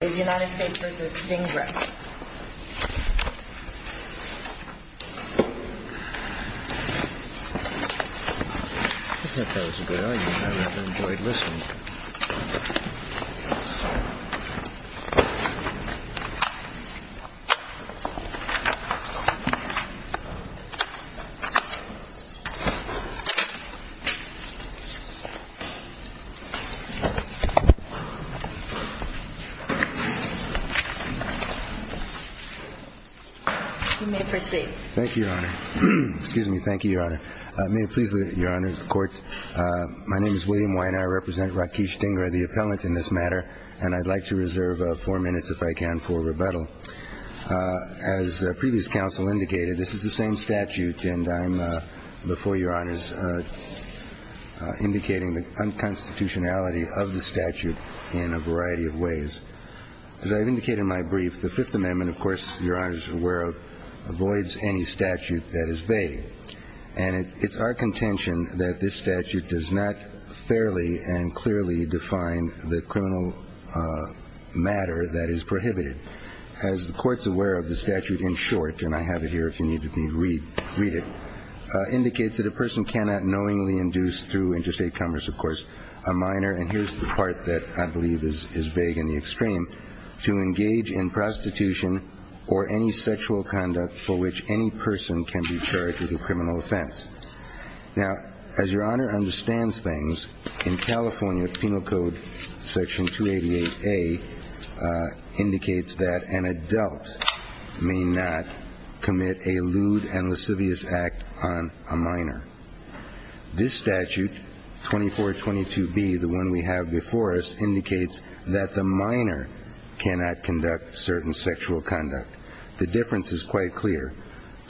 It's United States versus Stingray. I think that was a good idea. I would have enjoyed listening. You may proceed. Thank you, Your Honor. Excuse me. Thank you, Your Honor. May it please the Court. My name is William Wiener. I represent Rakeesh Dhingra, the appellant in this matter, and I'd like to reserve four minutes, if I can, for rebuttal. As previous counsel indicated, this is the same statute, and I'm before Your Honors indicating the unconstitutionality of the statute in a variety of ways. As I've indicated in my brief, the Fifth Amendment, of course, Your Honors are aware of, avoids any statute that is vague, and it's our contention that this statute does not fairly and clearly define the criminal matter that is prohibited. As the Court's aware of, the statute, in short, and I have it here if you need to read it, indicates that a person cannot knowingly induce through interstate commerce, of course, a minor, and here's the part that I believe is vague in the extreme, to engage in prostitution or any sexual conduct for which any person can be charged with a criminal offense. Now, as Your Honor understands things, in California, Penal Code Section 288A indicates that an adult may not commit a lewd and lascivious act on a minor. This statute, 2422B, the one we have before us, indicates that the minor cannot conduct certain sexual conduct. The difference is quite clear.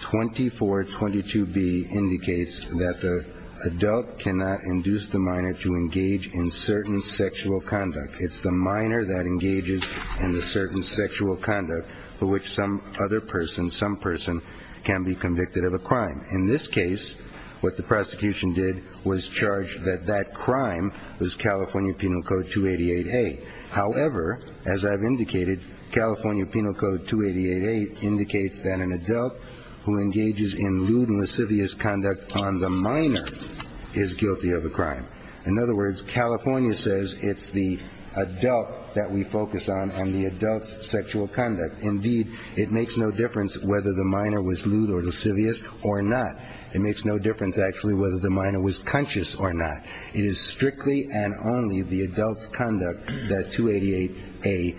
2422B indicates that the adult cannot induce the minor to engage in certain sexual conduct. It's the minor that engages in the certain sexual conduct for which some other person, In this case, what the prosecution did was charge that that crime was California Penal Code 288A. However, as I've indicated, California Penal Code 288A indicates that an adult who engages in lewd and lascivious conduct on the minor is guilty of a crime. In other words, California says it's the adult that we focus on and the adult's sexual conduct. Indeed, it makes no difference whether the minor was lewd or lascivious or not. It makes no difference, actually, whether the minor was conscious or not. It is strictly and only the adult's conduct that 288A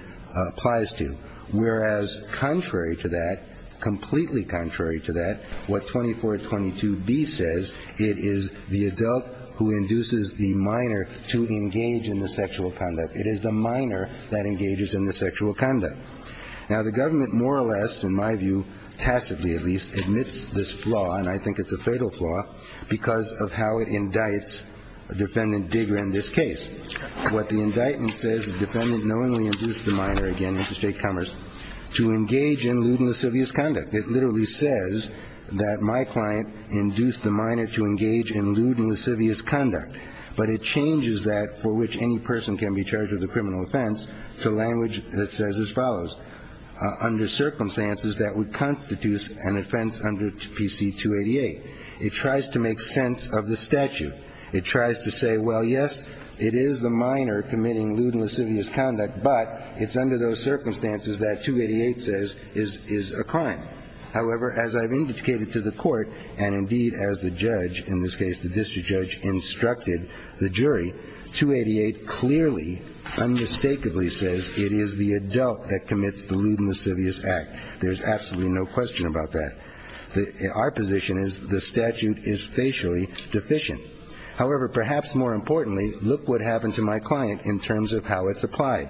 applies to. Whereas, contrary to that, completely contrary to that, what 2422B says, it is the adult who induces the minor to engage in the sexual conduct. It is the minor that engages in the sexual conduct. Now, the government more or less, in my view, tacitly at least, admits this flaw, and I think it's a fatal flaw, because of how it indicts Defendant Digger in this case. What the indictment says is the defendant knowingly induced the minor, again, Mr. Statecombers, to engage in lewd and lascivious conduct. It literally says that my client induced the minor to engage in lewd and lascivious conduct, but it changes that for which any person can be charged with a criminal offense to language that says as follows, under circumstances that would constitute an offense under PC 288. It tries to make sense of the statute. It tries to say, well, yes, it is the minor committing lewd and lascivious conduct, but it's under those circumstances that 288 says is a crime. However, as I've indicated to the Court, and indeed as the judge, in this case the judge mistakenly says it is the adult that commits the lewd and lascivious act. There's absolutely no question about that. Our position is the statute is facially deficient. However, perhaps more importantly, look what happened to my client in terms of how it's applied.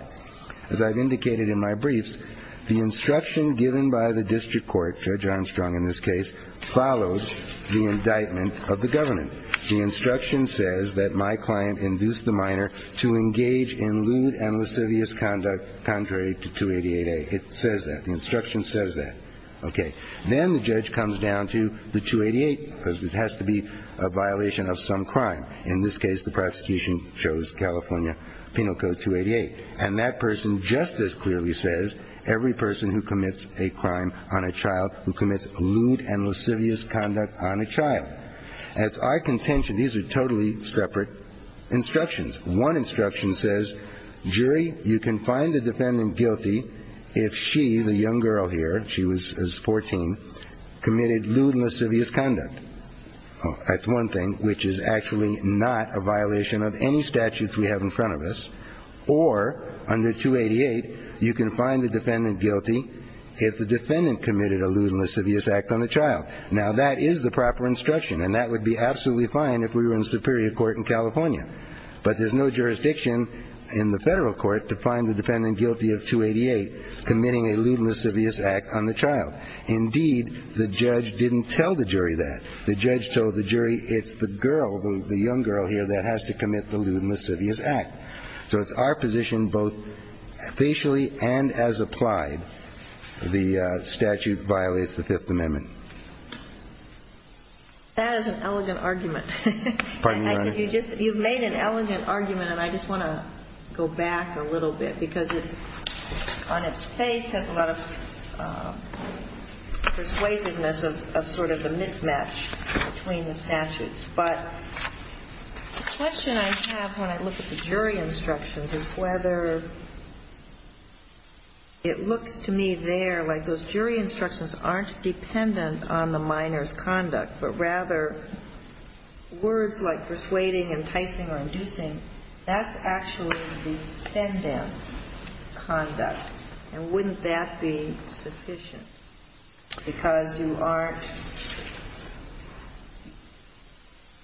As I've indicated in my briefs, the instruction given by the district court, Judge Armstrong in this case, follows the indictment of the government. The instruction says that my client induced the minor to engage in lewd and lascivious conduct contrary to 288A. It says that. The instruction says that. Okay. Then the judge comes down to the 288 because it has to be a violation of some crime. In this case, the prosecution chose California Penal Code 288. And that person just as clearly says every person who commits a crime on a child who commits lewd and lascivious conduct on a child. That's our contention. These are totally separate instructions. One instruction says, jury, you can find the defendant guilty if she, the young girl here, she was 14, committed lewd and lascivious conduct. That's one thing, which is actually not a violation of any statutes we have in front of us. Or under 288, you can find the defendant guilty if the defendant committed a lewd and lascivious act on a child. Now, that is the proper instruction. And that would be absolutely fine if we were in superior court in California. But there's no jurisdiction in the federal court to find the defendant guilty of 288 committing a lewd and lascivious act on the child. Indeed, the judge didn't tell the jury that. The judge told the jury it's the girl, the young girl here, that has to commit the lewd and lascivious act. So it's our position, both facially and as applied, the statute violates the Fifth Amendment. That is an elegant argument. Pardon me, Your Honor. You've made an elegant argument, and I just want to go back a little bit, because it, on its face, has a lot of persuasiveness of sort of a mismatch between the statutes. But the question I have when I look at the jury instructions is whether it looks to me there like those jury instructions aren't dependent on the minor's conduct, but rather words like persuading, enticing, or inducing. That's actually the defendant's conduct. And wouldn't that be sufficient? Because you aren't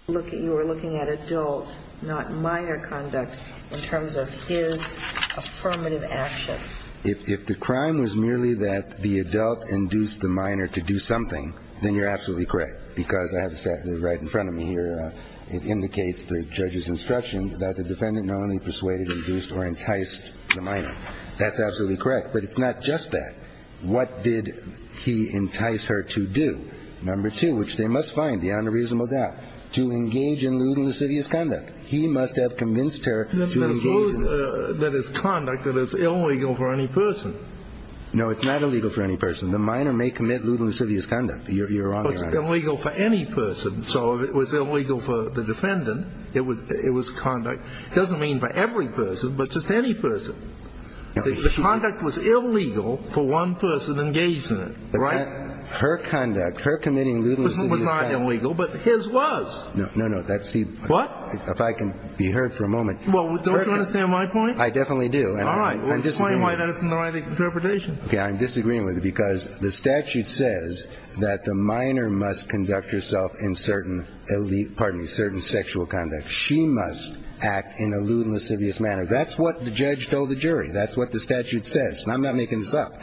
looking at adult, not minor conduct, in terms of his affirmative action. If the crime was merely that the adult induced the minor to do something, then you're absolutely correct. Because I have the statute right in front of me here. It indicates the judge's instruction that the defendant not only persuaded, induced, or enticed the minor. That's absolutely correct. But it's not just that. What did he entice her to do? Number two, which they must find beyond a reasonable doubt, to engage in lewd and lascivious conduct. He must have convinced her to engage in lewd and lascivious conduct. No, it's not illegal for any person. The minor may commit lewd and lascivious conduct. You're wrong. It's illegal for any person. So if it was illegal for the defendant, it was conduct. It doesn't mean for every person, but just any person. The conduct was illegal for one person engaged in it, right? Her conduct, her committing lewd and lascivious conduct. It was not illegal, but his was. No, no, no. What? If I can be heard for a moment. Well, don't you understand my point? I definitely do. All right. Explain why that isn't the right interpretation. Okay, I'm disagreeing with you because the statute says that the minor must conduct herself in certain elite, pardon me, certain sexual conduct. She must act in a lewd and lascivious manner. That's what the judge told the jury. That's what the statute says. And I'm not making this up.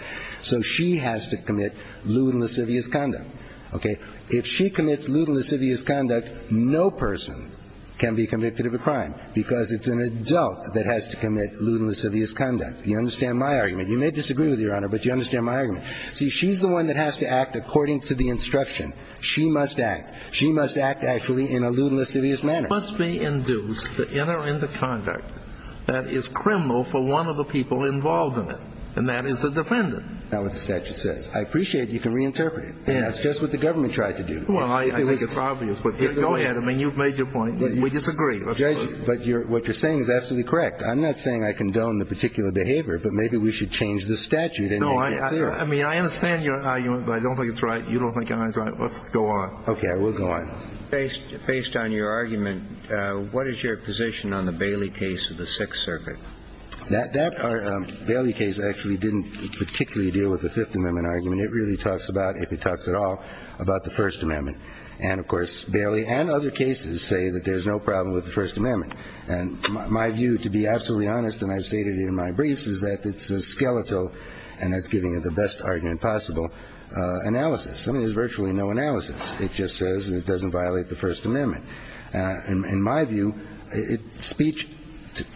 So she has to commit lewd and lascivious conduct, okay? If she commits lewd and lascivious conduct, no person can be convicted of a crime because it's an adult that has to commit lewd and lascivious conduct. You understand my argument. You may disagree with me, Your Honor, but you understand my argument. See, she's the one that has to act according to the instruction. She must act. She must act actually in a lewd and lascivious manner. It must be induced, the inner and the conduct, that is criminal for one of the people involved in it, and that is the defendant. That's what the statute says. I appreciate you can reinterpret it. Yes. That's just what the government tried to do. Well, I think it's obvious. Go ahead. I mean, you've made your point. We disagree. Judge, but what you're saying is absolutely correct. I'm not saying I condone the particular behavior, but maybe we should change the statute and make it clearer. No. I mean, I understand your argument, but I don't think it's right. You don't think it's right. Let's go on. Okay. We'll go on. Based on your argument, what is your position on the Bailey case of the Sixth Circuit? That Bailey case actually didn't particularly deal with the Fifth Amendment argument. It really talks about, if it talks at all, about the First Amendment. And, of course, Bailey and other cases say that there's no problem with the First Amendment. And my view, to be absolutely honest, and I've stated it in my briefs, is that it's a skeletal and that's giving it the best argument possible analysis. I mean, there's virtually no analysis. It just says it doesn't violate the First Amendment. In my view, speech,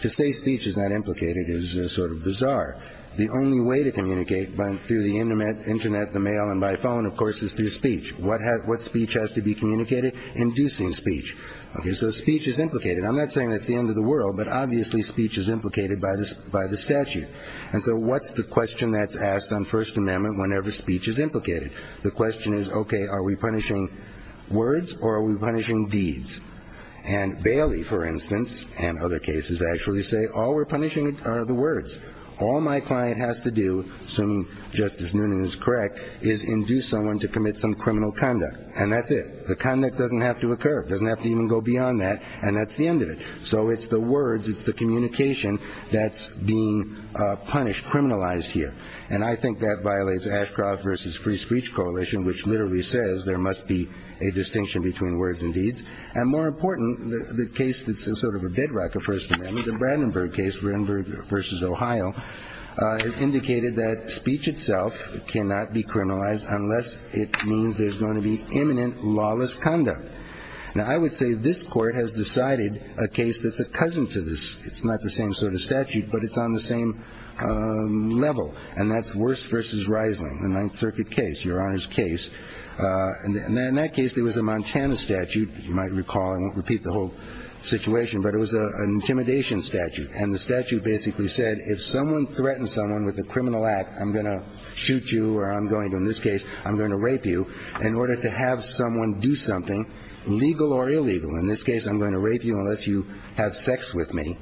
to say speech is not implicated is sort of bizarre. The only way to communicate through the Internet, the mail, and by phone, of course, is through speech. What speech has to be communicated? Inducing speech. Okay. So speech is implicated. I'm not saying it's the end of the world, but obviously speech is implicated by the statute. And so what's the question that's asked on First Amendment whenever speech is implicated? The question is, okay, are we punishing words or are we punishing deeds? And Bailey, for instance, and other cases actually say all we're punishing are the words. All my client has to do, assuming Justice Noonan is correct, is induce someone to commit some criminal conduct, and that's it. The conduct doesn't have to occur. It doesn't have to even go beyond that, and that's the end of it. So it's the words, it's the communication that's being punished, criminalized here. And I think that violates Ashcroft v. Free Speech Coalition, which literally says there must be a distinction between words and deeds. And more important, the case that's sort of a bedrock of First Amendment, the Brandenburg case, Brandenburg v. Ohio, has indicated that speech itself cannot be criminalized unless it means there's going to be imminent lawless conduct. Now, I would say this court has decided a case that's a cousin to this. It's not the same sort of statute, but it's on the same level, and that's Wurst v. Reisling, the Ninth Circuit case, Your Honor's case. And in that case, there was a Montana statute. You might recall. I won't repeat the whole situation, but it was an intimidation statute, and the statute basically said if someone threatens someone with a criminal act, I'm going to shoot you or I'm going to, in this case, I'm going to rape you in order to have someone do something, legal or illegal. In this case, I'm going to rape you unless you have sex with me.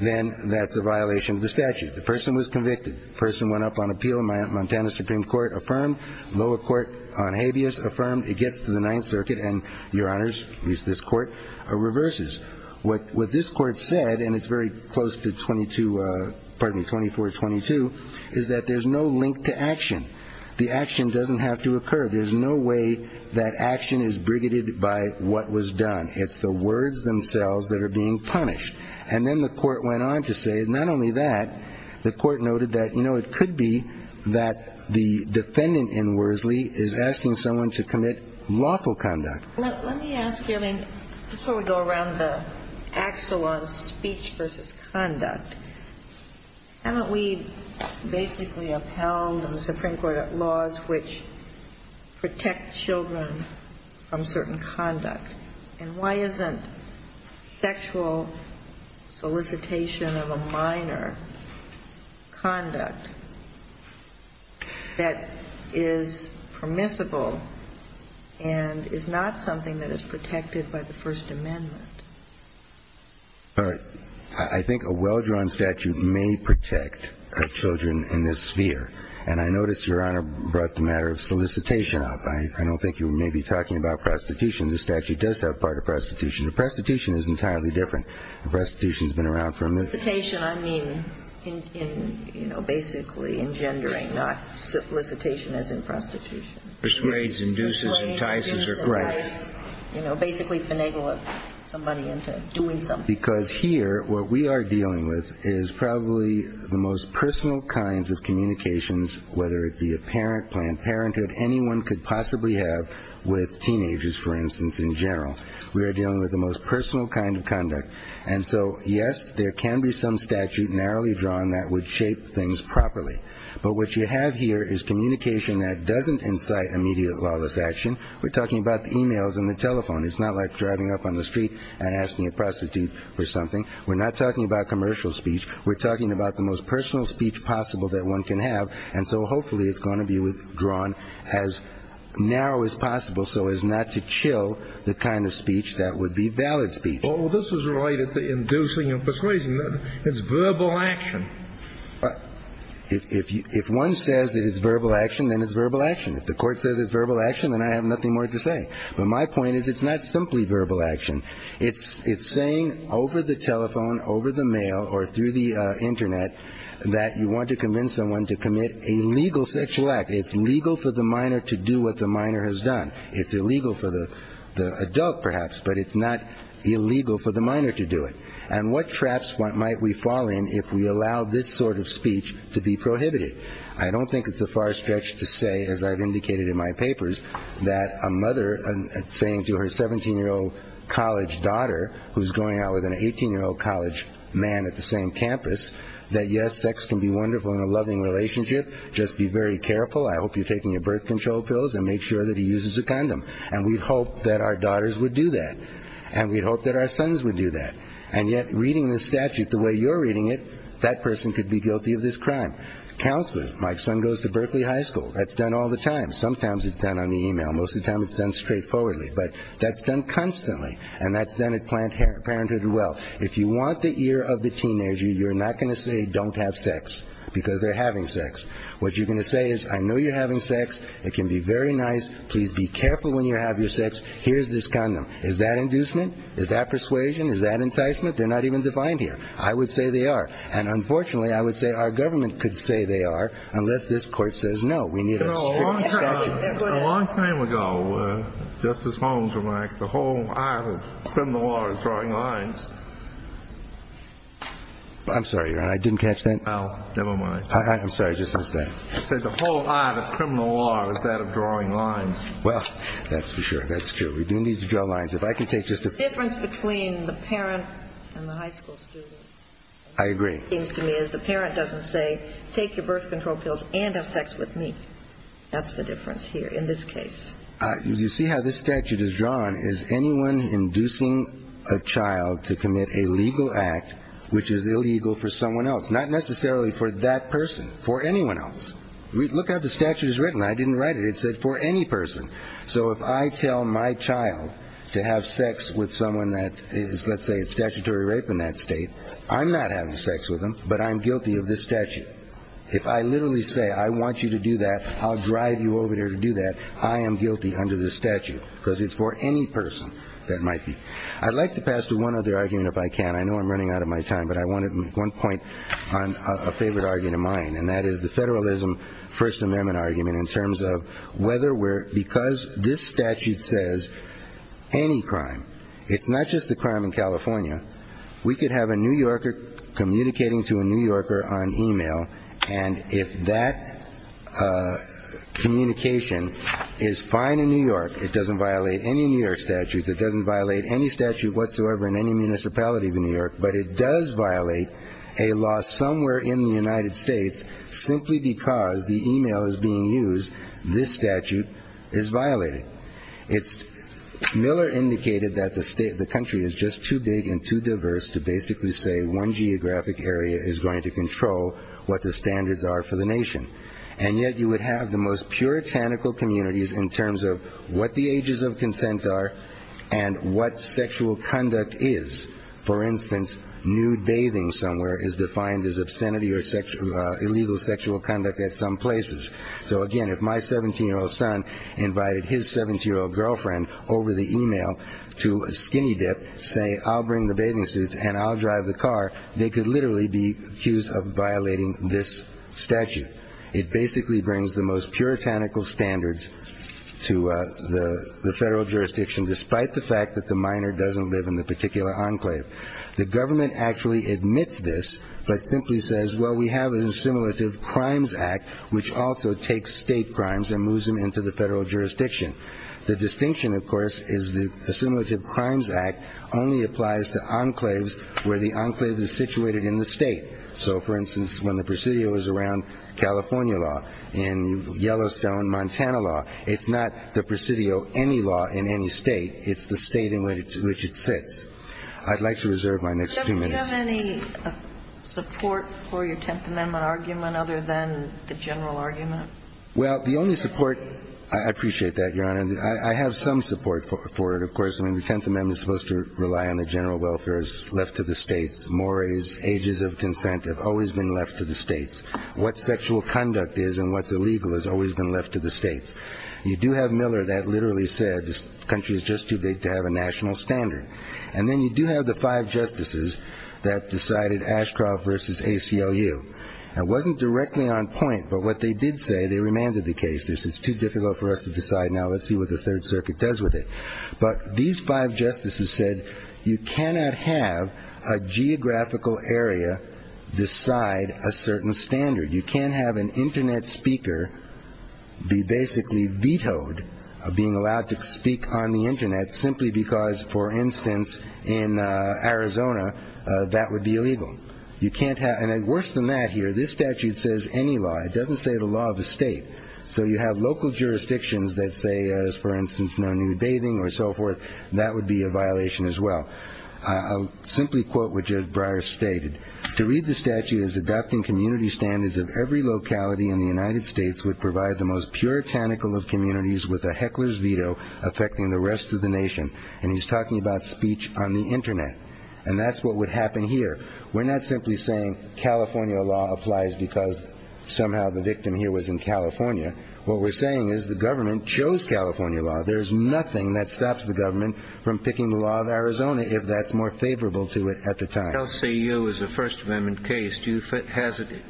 Then that's a violation of the statute. The person was convicted. The person went up on appeal. Montana Supreme Court affirmed. Lower Court on habeas affirmed. It gets to the Ninth Circuit, and Your Honors, at least this court, reverses. What this court said, and it's very close to 22, pardon me, 2422, is that there's no link to action. The action doesn't have to occur. There's no way that action is brigaded by what was done. It's the words themselves that are being punished. And then the court went on to say not only that, the court noted that, you know, it could be that the defendant in Worsley is asking someone to commit lawful conduct. Let me ask you, I mean, this is where we go around the axle on speech versus conduct. Haven't we basically upheld in the Supreme Court laws which protect children from certain conduct? And why isn't sexual solicitation of a minor conduct that is permissible and is not something that is protected by the First Amendment? All right. I think a well-drawn statute may protect children in this sphere. And I noticed Your Honor brought the matter of solicitation up. I don't think you may be talking about prostitution. The statute does have part of prostitution. Prostitution is entirely different. Prostitution has been around for a minute. Solicitation I mean in, you know, basically engendering, not solicitation as in prostitution. Persuades, induces, entices. Right. You know, basically finagling somebody into doing something. Because here what we are dealing with is probably the most personal kinds of communications, whether it be a parent, Planned Parenthood, anyone could possibly have with teenagers, for instance, in general. We are dealing with the most personal kind of conduct. And so, yes, there can be some statute narrowly drawn that would shape things properly. But what you have here is communication that doesn't incite immediate lawless action. We're talking about the e-mails and the telephone. It's not like driving up on the street and asking a prostitute for something. We're not talking about commercial speech. We're talking about the most personal speech possible that one can have. And so hopefully it's going to be withdrawn as narrow as possible so as not to chill the kind of speech that would be valid speech. Well, this is related to inducing and persuading. It's verbal action. If one says that it's verbal action, then it's verbal action. If the court says it's verbal action, then I have nothing more to say. But my point is it's not simply verbal action. It's saying over the telephone, over the mail, or through the Internet that you want to convince someone to commit a legal sexual act. It's legal for the minor to do what the minor has done. It's illegal for the adult, perhaps, but it's not illegal for the minor to do it. And what traps might we fall in if we allow this sort of speech to be prohibited? I don't think it's a far stretch to say, as I've indicated in my papers, that a mother saying to her 17-year-old college daughter, who's going out with an 18-year-old college man at the same campus, that, yes, sex can be wonderful in a loving relationship. Just be very careful. I hope you're taking your birth control pills and make sure that he uses a condom. And we'd hope that our daughters would do that. And we'd hope that our sons would do that. And yet reading this statute the way you're reading it, that person could be guilty of this crime. Counselors. My son goes to Berkeley High School. That's done all the time. Sometimes it's done on the e-mail. Most of the time it's done straightforwardly. But that's done constantly, and that's done at Planned Parenthood as well. If you want the ear of the teenager, you're not going to say, don't have sex, because they're having sex. What you're going to say is, I know you're having sex. It can be very nice. Please be careful when you have your sex. Here's this condom. Is that inducement? Is that persuasion? Is that enticement? They're not even defined here. I would say they are. And unfortunately, I would say our government could say they are unless this Court says no. We need a strict statute. A long time ago, Justice Holmes remarked the whole art of criminal law is drawing lines. I'm sorry, Your Honor. I didn't catch that. Never mind. I'm sorry. I just missed that. He said the whole art of criminal law is that of drawing lines. Well, that's for sure. That's true. We do need to draw lines. If I can take just a ---- The difference between the parent and the high school student. I agree. Seems to me as the parent doesn't say, take your birth control pills and have sex with me. That's the difference here in this case. You see how this statute is drawn? Is anyone inducing a child to commit a legal act which is illegal for someone else? Not necessarily for that person. For anyone else. Look how the statute is written. I didn't write it. It said for any person. So if I tell my child to have sex with someone that is, let's say, a statutory rape in that state, I'm not having sex with them, but I'm guilty of this statute. If I literally say I want you to do that, I'll drive you over there to do that, I am guilty under this statute because it's for any person that might be. I'd like to pass to one other argument if I can. I know I'm running out of my time, but I wanted to make one point on a favorite argument of mine, and that is the federalism First Amendment argument in terms of whether we're, because this statute says any crime, it's not just the crime in California, we could have a New Yorker communicating to a New Yorker on e-mail, and if that communication is fine in New York, it doesn't violate any New York statutes, it doesn't violate any statute whatsoever in any municipality of New York, but it does violate a law somewhere in the United States simply because the e-mail is being used, this statute is violated. Miller indicated that the country is just too big and too diverse to basically say one geographic area is going to control what the standards are for the nation, and yet you would have the most puritanical communities in terms of what the ages of consent are and what sexual conduct is. For instance, nude bathing somewhere is defined as obscenity or illegal sexual conduct at some places. So, again, if my 17-year-old son invited his 17-year-old girlfriend over the e-mail to a skinny dip, say I'll bring the bathing suits and I'll drive the car, they could literally be accused of violating this statute. It basically brings the most puritanical standards to the federal jurisdiction, despite the fact that the minor doesn't live in the particular enclave. The government actually admits this, but simply says, well, we have an assimilative crimes act, which also takes state crimes and moves them into the federal jurisdiction. The distinction, of course, is the assimilative crimes act only applies to enclaves where the enclave is situated in the state. So, for instance, when the presidio is around California law, in Yellowstone, Montana law, it's not the presidio any law in any state. It's the state in which it sits. I'd like to reserve my next two minutes. Sotomayor, do you have any support for your Tenth Amendment argument other than the general argument? Well, the only support – I appreciate that, Your Honor. I have some support for it, of course. I mean, the Tenth Amendment is supposed to rely on the general welfare that's left to the states. Mores, ages of consent have always been left to the states. What sexual conduct is and what's illegal has always been left to the states. You do have Miller that literally said this country is just too big to have a national standard. And then you do have the five justices that decided Ashcroft versus ACLU. It wasn't directly on point, but what they did say, they remanded the case. They said it's too difficult for us to decide now. Let's see what the Third Circuit does with it. But these five justices said you cannot have a geographical area decide a certain standard. You can't have an Internet speaker be basically vetoed of being allowed to speak on the Internet simply because, for instance, in Arizona, that would be illegal. You can't have – and worse than that here, this statute says any law. It doesn't say the law of the state. So you have local jurisdictions that say, for instance, no nude bathing or so forth. That would be a violation as well. I'll simply quote what Judge Breyer stated. To read the statute is adopting community standards of every locality in the United States would provide the most puritanical of communities with a heckler's veto affecting the rest of the nation. And he's talking about speech on the Internet. And that's what would happen here. We're not simply saying California law applies because somehow the victim here was in California. What we're saying is the government chose California law. There's nothing that stops the government from picking the law of Arizona if that's more favorable to it at the time. If the LCAO is a First Amendment case, do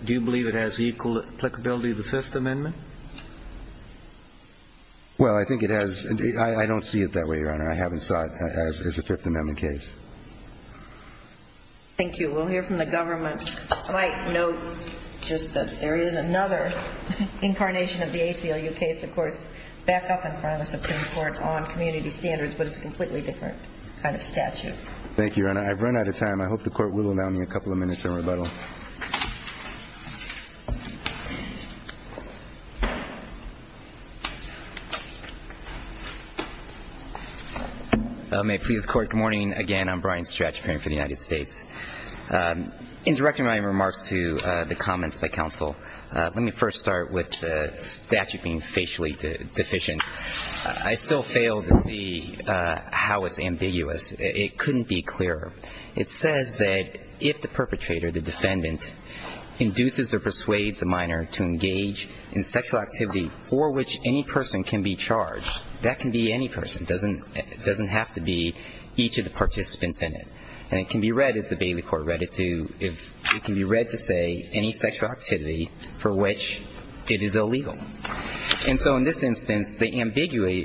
you believe it has equal applicability to the Fifth Amendment? Well, I think it has. I don't see it that way, Your Honor. I haven't saw it as a Fifth Amendment case. Thank you. We'll hear from the government. I might note just that there is another incarnation of the ACLU case, of course, back up in front of the Supreme Court on community standards, but it's a completely different kind of statute. Thank you, Your Honor. I've run out of time. Thank you. May it please the Court, good morning. Again, I'm Brian Stretch, appearing for the United States. In directing my remarks to the comments by counsel, let me first start with the statute being facially deficient. I still fail to see how it's ambiguous. It couldn't be clearer. It says that if the perpetrator, the defendant, induces or persuades a minor to engage in sexual activity for which any person can be charged, that can be any person. It doesn't have to be each of the participants in it. And it can be read, as the Bailey Court read it to, it can be read to say any sexual activity for which it is illegal. And so in this instance, the ambiguity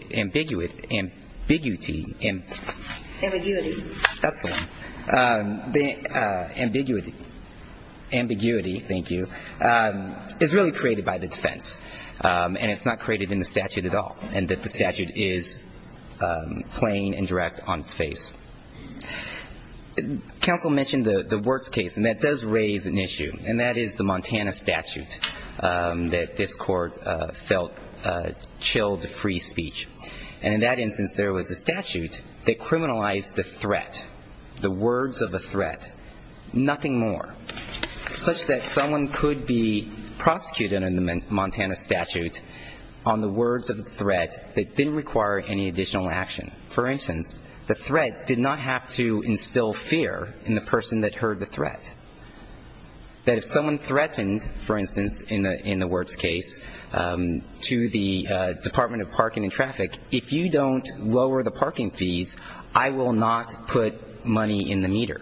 is really created by the defense, and it's not created in the statute at all, and that the statute is plain and direct on its face. Counsel mentioned the worst case, and that does raise an issue, and that is the Montana statute that this Court felt chilled free speech. And in that instance, there was a statute that criminalized the threat, the words of a threat, nothing more, such that someone could be prosecuted under the Montana statute on the words of a threat that didn't require any additional action. For instance, the threat did not have to instill fear in the person that heard the threat. That if someone threatened, for instance, in the words case, to the Department of Parking and Traffic, if you don't lower the parking fees, I will not put money in the meter.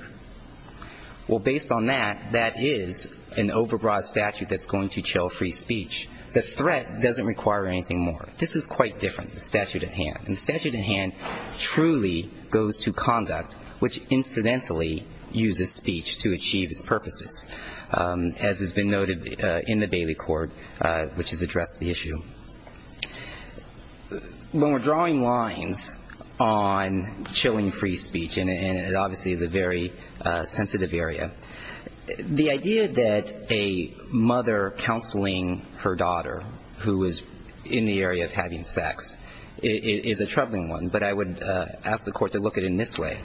Well, based on that, that is an overbroad statute that's going to chill free speech. The threat doesn't require anything more. This is quite different, the statute at hand. The statute at hand truly goes to conduct, which incidentally uses speech to achieve its purposes, as has been noted in the Bailey Court, which has addressed the issue. When we're drawing lines on chilling free speech, and it obviously is a very sensitive area, the idea that a mother counseling her daughter who is in the area of having sex is a very sensitive area, is a troubling one, but I would ask the court to look at it in this way.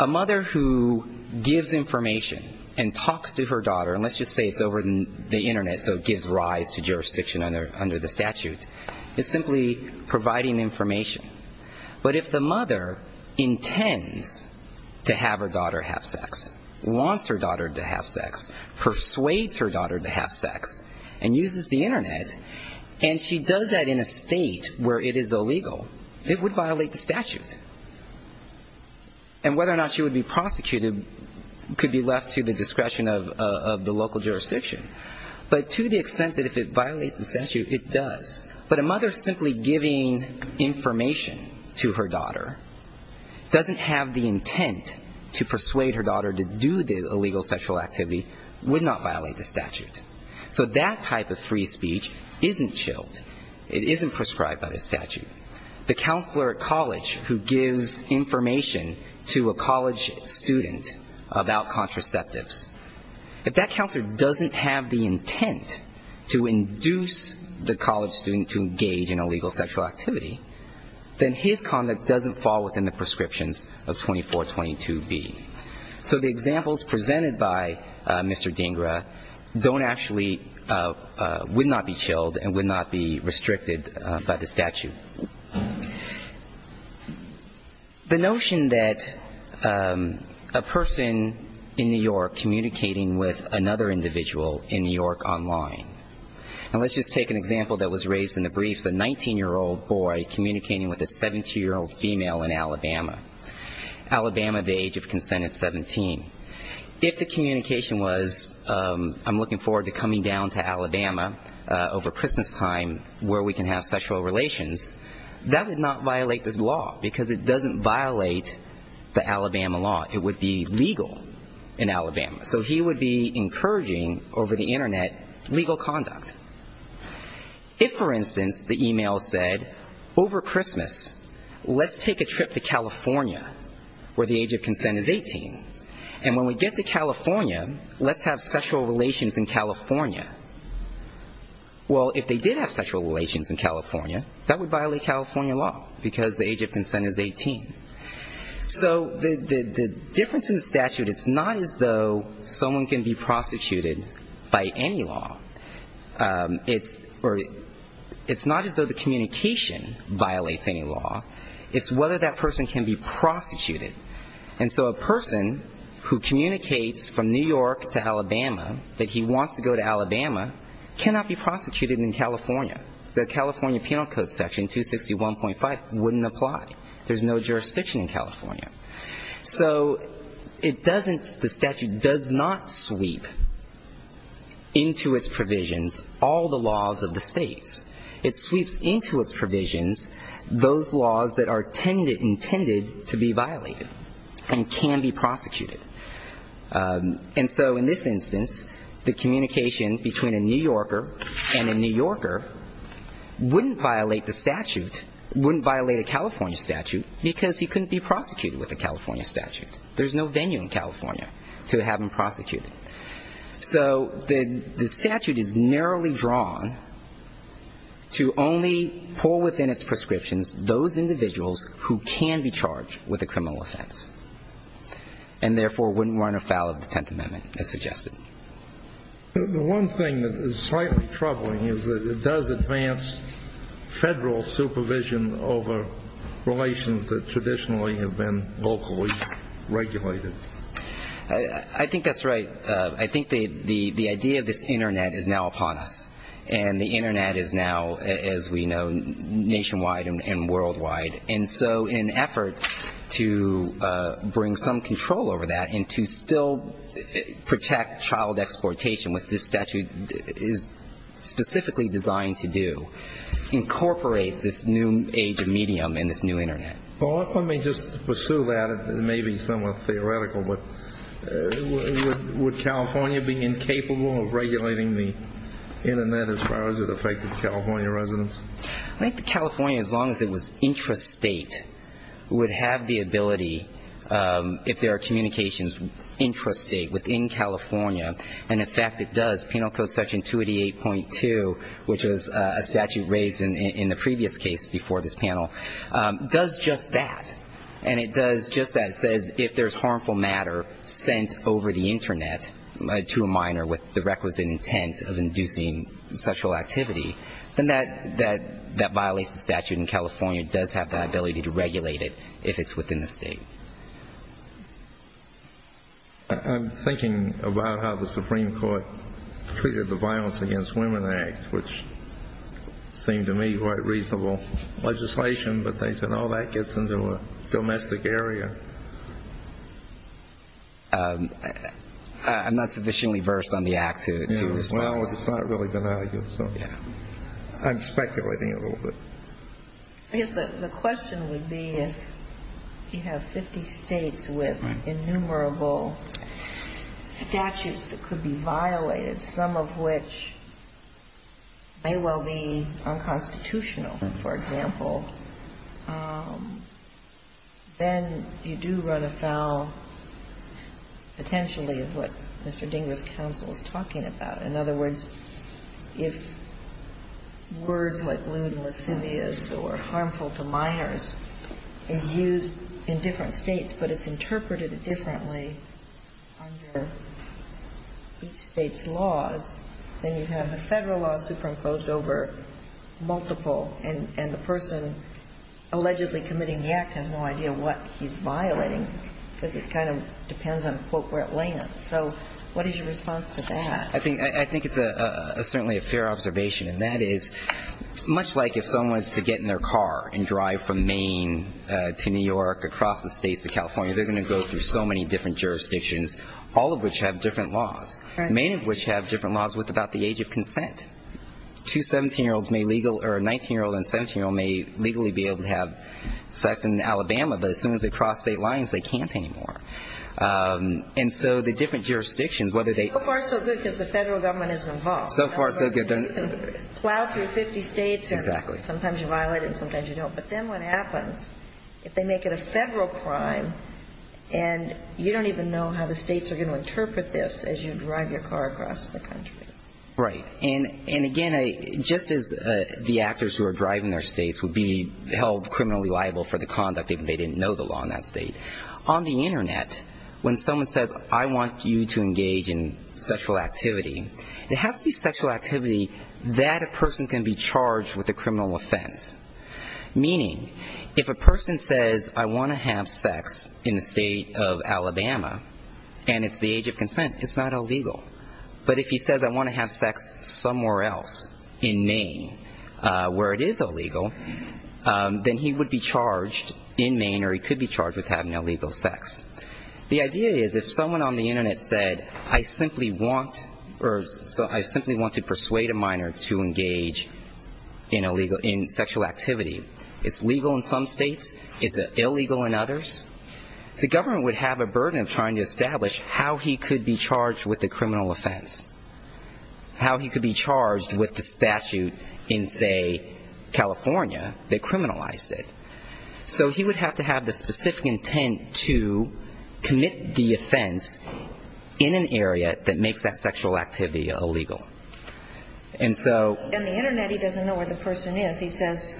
A mother who gives information and talks to her daughter, and let's just say it's over the Internet, so it gives rise to jurisdiction under the statute, is simply providing information. But if the mother intends to have her daughter have sex, wants her daughter to have sex, persuades her daughter to have sex, and uses the Internet, and she does that in a state where it is illegal, it would violate the statute. And whether or not she would be prosecuted could be left to the discretion of the local jurisdiction. But to the extent that if it violates the statute, it does. But a mother simply giving information to her daughter, doesn't have the intent to persuade her daughter to do the illegal sexual activity, would not violate the statute. So that type of free speech isn't chilled. It isn't prescribed by the statute. The counselor at college who gives information to a college student about contraceptives, if that counselor doesn't have the intent to induce the college student to engage in illegal sexual activity, then his conduct doesn't fall within the prescriptions of 2422B. So the examples presented by Mr. Dhingra don't actually, would not be chilled and would not be restricted by the statute. The notion that a person in New York communicating with another individual in New York online, and let's just take an example that was raised in the briefs, a 19-year-old boy communicating with a 17-year-old female in Alabama. Alabama, the age of consent is 17. If the communication was, I'm looking forward to coming down to Alabama over Christmas time, where we can have sexual relations, that would not violate this law, because it doesn't violate the Alabama law. It would be legal in Alabama. So he would be encouraging over the Internet legal conduct. If, for instance, the email said, over Christmas, let's take a trip to California, where the age of consent is 18. And when we get to California, let's have sexual relations in California. Well, if they did have sexual relations in California, that would violate California law, because the age of consent is 18. So the difference in the statute, it's not as though someone can be prosecuted by any law. It's not as though the communication violates any law. It's whether that person can be prosecuted. And so a person who communicates from New York to Alabama, that he wants to go to Alabama, cannot be prosecuted in California. The California Penal Code section, 261.5, wouldn't apply. There's no jurisdiction in California. So it doesn't, the statute does not sweep into its provisions, all of its provisions. All the laws of the states. It sweeps into its provisions those laws that are intended to be violated and can be prosecuted. And so in this instance, the communication between a New Yorker and a New Yorker wouldn't violate the statute, wouldn't violate a California statute, because he couldn't be prosecuted with a California statute. There's no venue in California to have him prosecuted. So the statute is narrowly drawn to only pull within its prescriptions those individuals who can be charged with a criminal offense. And therefore wouldn't run afoul of the Tenth Amendment, as suggested. The one thing that is slightly troubling is that it does advance Federal supervision over relations that traditionally have been locally regulated. I think that's right. I think the idea of this Internet is now upon us. And the Internet is now, as we know, nationwide and worldwide. And so an effort to bring some control over that and to still protect child exportation, which this statute is specifically designed to do, incorporates this new age of medium in this new Internet. Well, let me just pursue that. It may be somewhat theoretical. But would California be incapable of regulating the Internet as far as it affected California residents? I think that California, as long as it was intrastate, would have the ability, if there are communications intrastate within California, and in fact it does. Penal Code Section 288.2, which was a statute raised in the previous case before this panel, does just that. And it does just that. It says if there's harmful matter sent over the Internet to a minor with the requisite intent of inducing sexual activity, then that violates the statute, and California does have the ability to regulate it if it's within the State. I'm thinking about how the Supreme Court treated the Violence Against Women Act, which seemed to me quite reasonable legislation. But they said, oh, that gets into a domestic area. I'm not sufficiently versed on the act to respond to that. Well, it's not really been argued. So I'm speculating a little bit. I guess the question would be if you have 50 states with innumerable statutes that could be violated, some of which may well be unconstitutional, for example, then you do run afoul potentially of what Mr. Dingres's counsel is talking about. In other words, if words like lewd and lascivious or harmful to minors is used in different states but it's interpreted differently under each state's laws, then you have a Federal law superimposed over multiple, and the person allegedly committing the act has no idea what he's violating because it kind of depends on where it lands. So what is your response to that? I think it's certainly a fair observation. And that is, much like if someone is to get in their car and drive from Maine to New York, across the states to California, they're going to go through so many different jurisdictions, all of which have different laws, many of which have different laws with about the age of consent. Two 17-year-olds may legally or a 19-year-old and a 17-year-old may legally be able to have sex in Alabama, but as soon as they cross state lines, they can't anymore. And so the different jurisdictions, whether they... So far so good because the Federal government is involved. Plow through 50 states and sometimes you violate it and sometimes you don't. But then what happens if they make it a Federal crime and you don't even know how the states are going to interpret this as you drive your car across the country? Right. And again, just as the actors who are driving their states would be held criminally liable for the conduct if they didn't know the law in that state, on the Internet, when someone says I want you to engage in sexual activity, it has to be sexual activity that a person can be charged with a criminal offense. Meaning if a person says I want to have sex in the state of Alabama and it's the age of consent, it's not illegal. But if he says I want to have sex somewhere else in Maine where it is illegal, then he would be charged in Maine or he could be charged with having illegal sex. The idea is if someone on the Internet said I simply want to persuade a minor to engage in sexual activity, it's legal in some states, is it illegal in others? The government would have a burden of trying to establish how he could be charged with a criminal offense. How he could be charged with the statute in, say, California that criminalized it. So he would have to have the specific intent to commit the offense in an area that makes that sexual activity illegal. And so the Internet he doesn't know where the person is. He says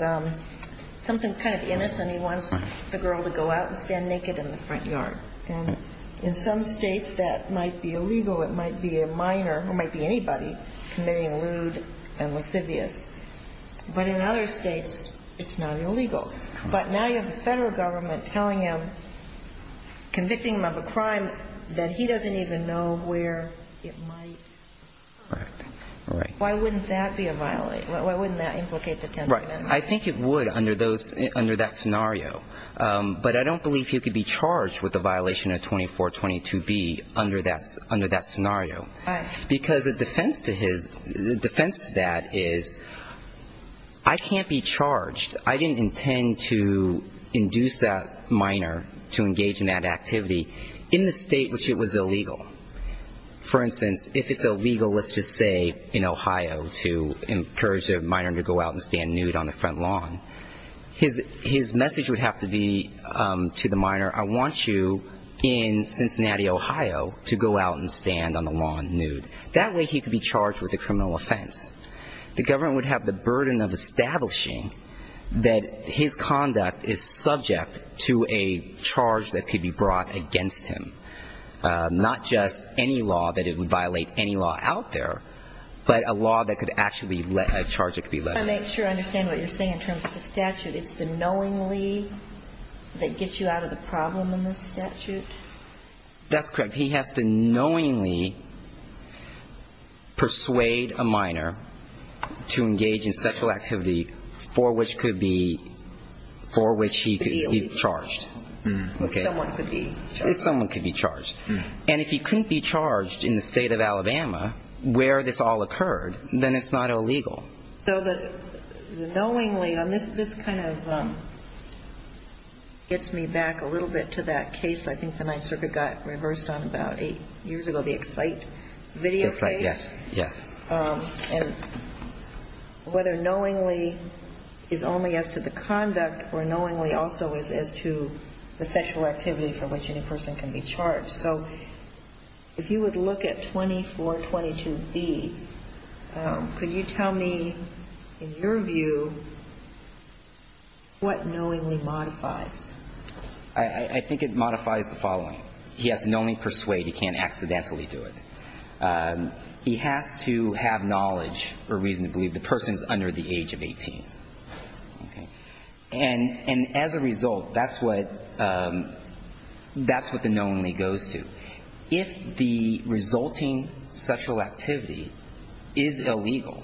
something kind of innocent, he wants the girl to go out and stand naked in the front yard. And in some states that might be illegal, it might be a minor or it might be anybody committing lewd and lascivious. But in other states it's not illegal. But now you have the Federal Government telling him, convicting him of a crime that he doesn't even know where it might occur. Why wouldn't that be a violation? Why wouldn't that implicate the 10th Amendment? I think it would under that scenario, but I don't believe he could be charged with a violation of 2422B under that scenario. Because the defense to that is I can't be charged. I didn't intend to induce that minor to engage in that activity in the state in which it was illegal. For instance, if it's illegal, let's just say in Ohio, to encourage a minor to go out and stand nude on the front lawn. His message would have to be to the minor, I want you in Cincinnati, Ohio, to go out and stand on the lawn nude. That way he could be charged with a criminal offense. The government would have the burden of establishing that his conduct is subject to a charge that could be brought against him. Not just any law that it would violate any law out there, but a law that could actually let a charge that could be let out. I'm not sure I understand what you're saying in terms of the statute. It's the knowingly that gets you out of the problem in the statute? That's correct. He has to knowingly persuade a minor to engage in sexual activity for which he could be charged. If someone could be charged. And if he couldn't be charged in the state of Alabama where this all occurred, then it's not illegal. So the knowingly, and this kind of gets me back a little bit to that case I think the Ninth Circuit got reversed on about eight years ago, the Excite video case. Yes. And whether knowingly is only as to the conduct or knowingly also is as to the sexual activity for which any person can be charged. So if you would look at 2422B, could you tell me in your view what knowingly modifies? I think it modifies the following. He has to knowingly persuade, he can't accidentally do it. He has to have knowledge or reason to believe the person is under the age of 18. And as a result, that's what the knowingly goes to. If the resulting sexual activity is illegal,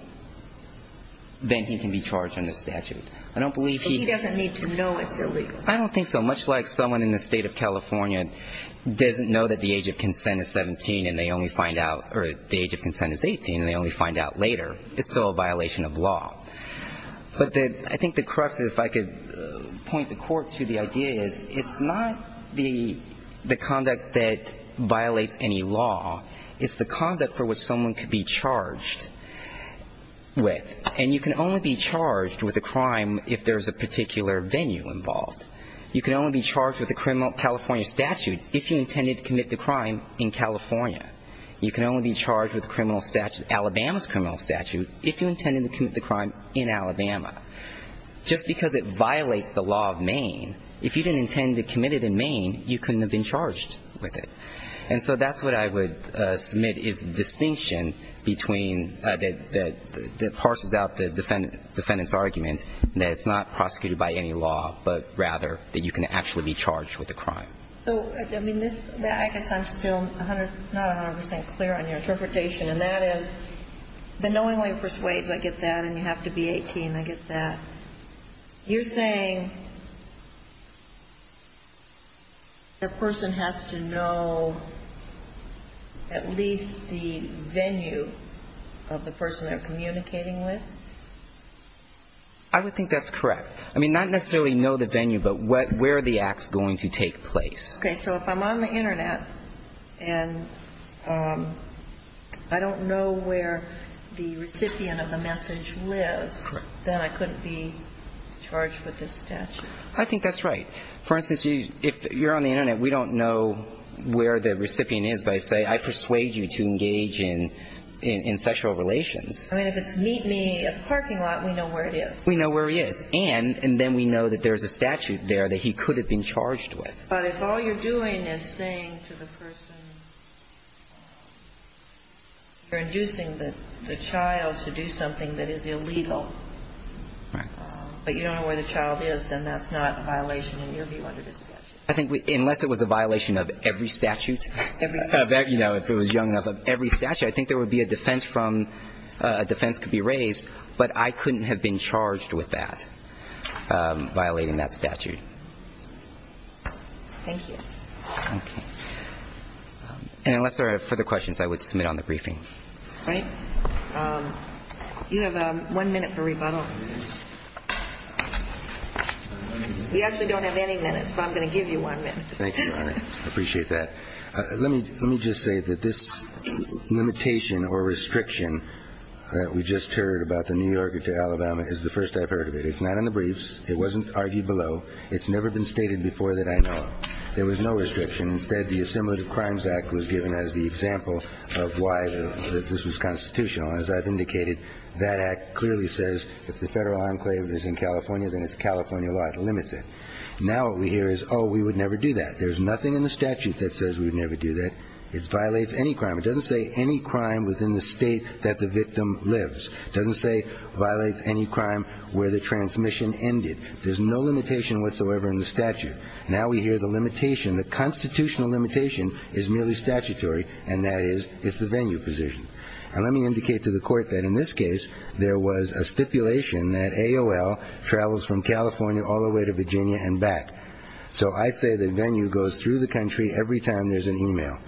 then he can be charged under statute. But he doesn't need to know it's illegal. I don't think so, much like someone in the state of California doesn't know that the age of consent is 17 and they only find out, or the age of consent is 18 and they only find out later. It's still a violation of law. But I think the crux, if I could point the Court to the idea, is it's not the conduct that violates any law. It's the conduct for which someone could be charged with. And you can only be charged with a crime if there's a particular venue involved. You can only be charged with a criminal California statute if you intended to commit the crime in California. You can only be charged with a criminal statute, Alabama's criminal statute, if you intended to commit the crime in Alabama. Just because it violates the law of Maine, if you didn't intend to commit it in Maine, you couldn't have been charged with it. And so that's what I would submit is the distinction between the parcels of crime in Alabama and the parcels of crime in Maine. And I think that brings out the defendant's argument that it's not prosecuted by any law, but rather that you can actually be charged with a crime. So, I mean, I guess I'm still not 100 percent clear on your interpretation, and that is the knowingly persuades, I get that, and you have to be 18, I get that. You're saying the person has to know at least the venue of the person they're communicating with? I would think that's correct. I mean, not necessarily know the venue, but where are the acts going to take place. Okay. So if I'm on the Internet and I don't know where the recipient of the message lives, then I couldn't be charged with this statute. I think that's right. For instance, if you're on the Internet, we don't know where the recipient is, but I persuade you to engage in sexual relations. I mean, if it's meet me at the parking lot, we know where it is. We know where he is. And then we know that there's a statute there that he could have been charged with. But if all you're doing is saying to the person, you're inducing the child to do something that is illegal, but you don't know where the child is, then that's not a violation in your view under this statute. I think unless it was a violation of every statute. Every statute. I think there would be a defense from, a defense could be raised, but I couldn't have been charged with that, violating that statute. Thank you. Okay. And unless there are further questions, I would submit on the briefing. Yes, we don't have any minutes, but I'm going to give you one minute. Thank you, Your Honor. I appreciate that. Let me just say that this limitation or restriction that we just heard about the New Yorker to Alabama is the first I've heard of it. It's not in the briefs. It wasn't argued below. It's never been stated before that I know. There was no restriction. Instead, the Assimilative Crimes Act was given as the example of why this was constitutional. As I've indicated, that act clearly says if the federal enclave is in California, then it's California law that limits it. Now what we hear is, oh, we would never do that. There's nothing in the statute that says we would never do that. It violates any crime. It doesn't say any crime within the state that the victim lives. It doesn't say it violates any crime where the transmission ended. There's no limitation whatsoever in the statute. Now we hear the limitation. The constitutional limitation is merely statutory, and that is it's the venue position. And let me indicate to the Court that in this case, there was a stipulation that AOL travels from California all the way to Virginia and back. So I say the venue goes through the country every time there's an e-mail.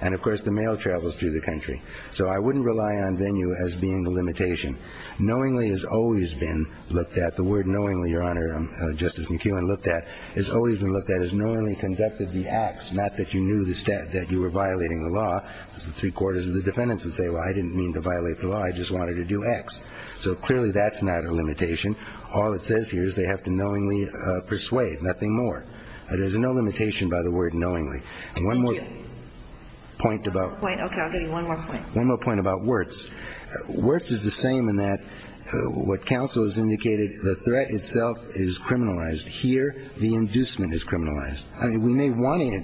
And, of course, the mail travels through the country. So I wouldn't rely on venue as being the limitation. Knowingly has always been looked at. The word knowingly, Your Honor, Justice McKeown looked at, has always been looked at as knowingly conducted the e-mail. Knowingly acts, not that you knew that you were violating the law. Three-quarters of the defendants would say, well, I didn't mean to violate the law. I just wanted to do X. So clearly that's not a limitation. All it says here is they have to knowingly persuade, nothing more. There's no limitation by the word knowingly. One more point about Wirtz. Wirtz is the same in that what counsel has indicated, the threat itself is criminalized. Here, the inducement is criminalized. We may want to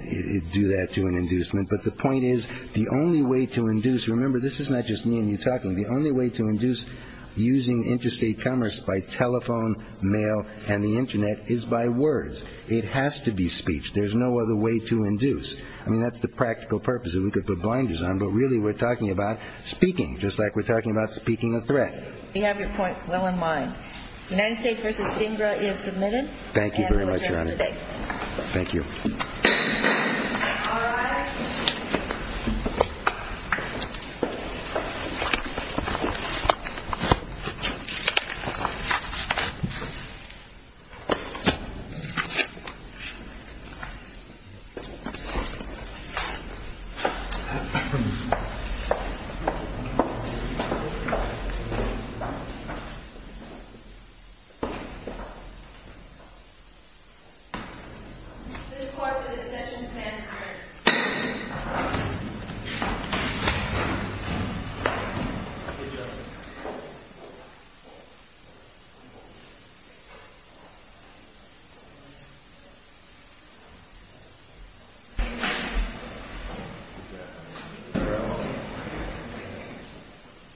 do that to an inducement, but the point is the only way to induce, remember, this is not just me and you talking. The only way to induce using interstate commerce by telephone, mail, and the Internet is by words. It has to be speech. There's no other way to induce. I mean, that's the practical purpose. We could put blinders on, but really we're talking about speaking, just like we're talking about speaking a threat. We have your point well in mind. United States v. Stingra is submitted. Thank you very much. Thank you. Thank you.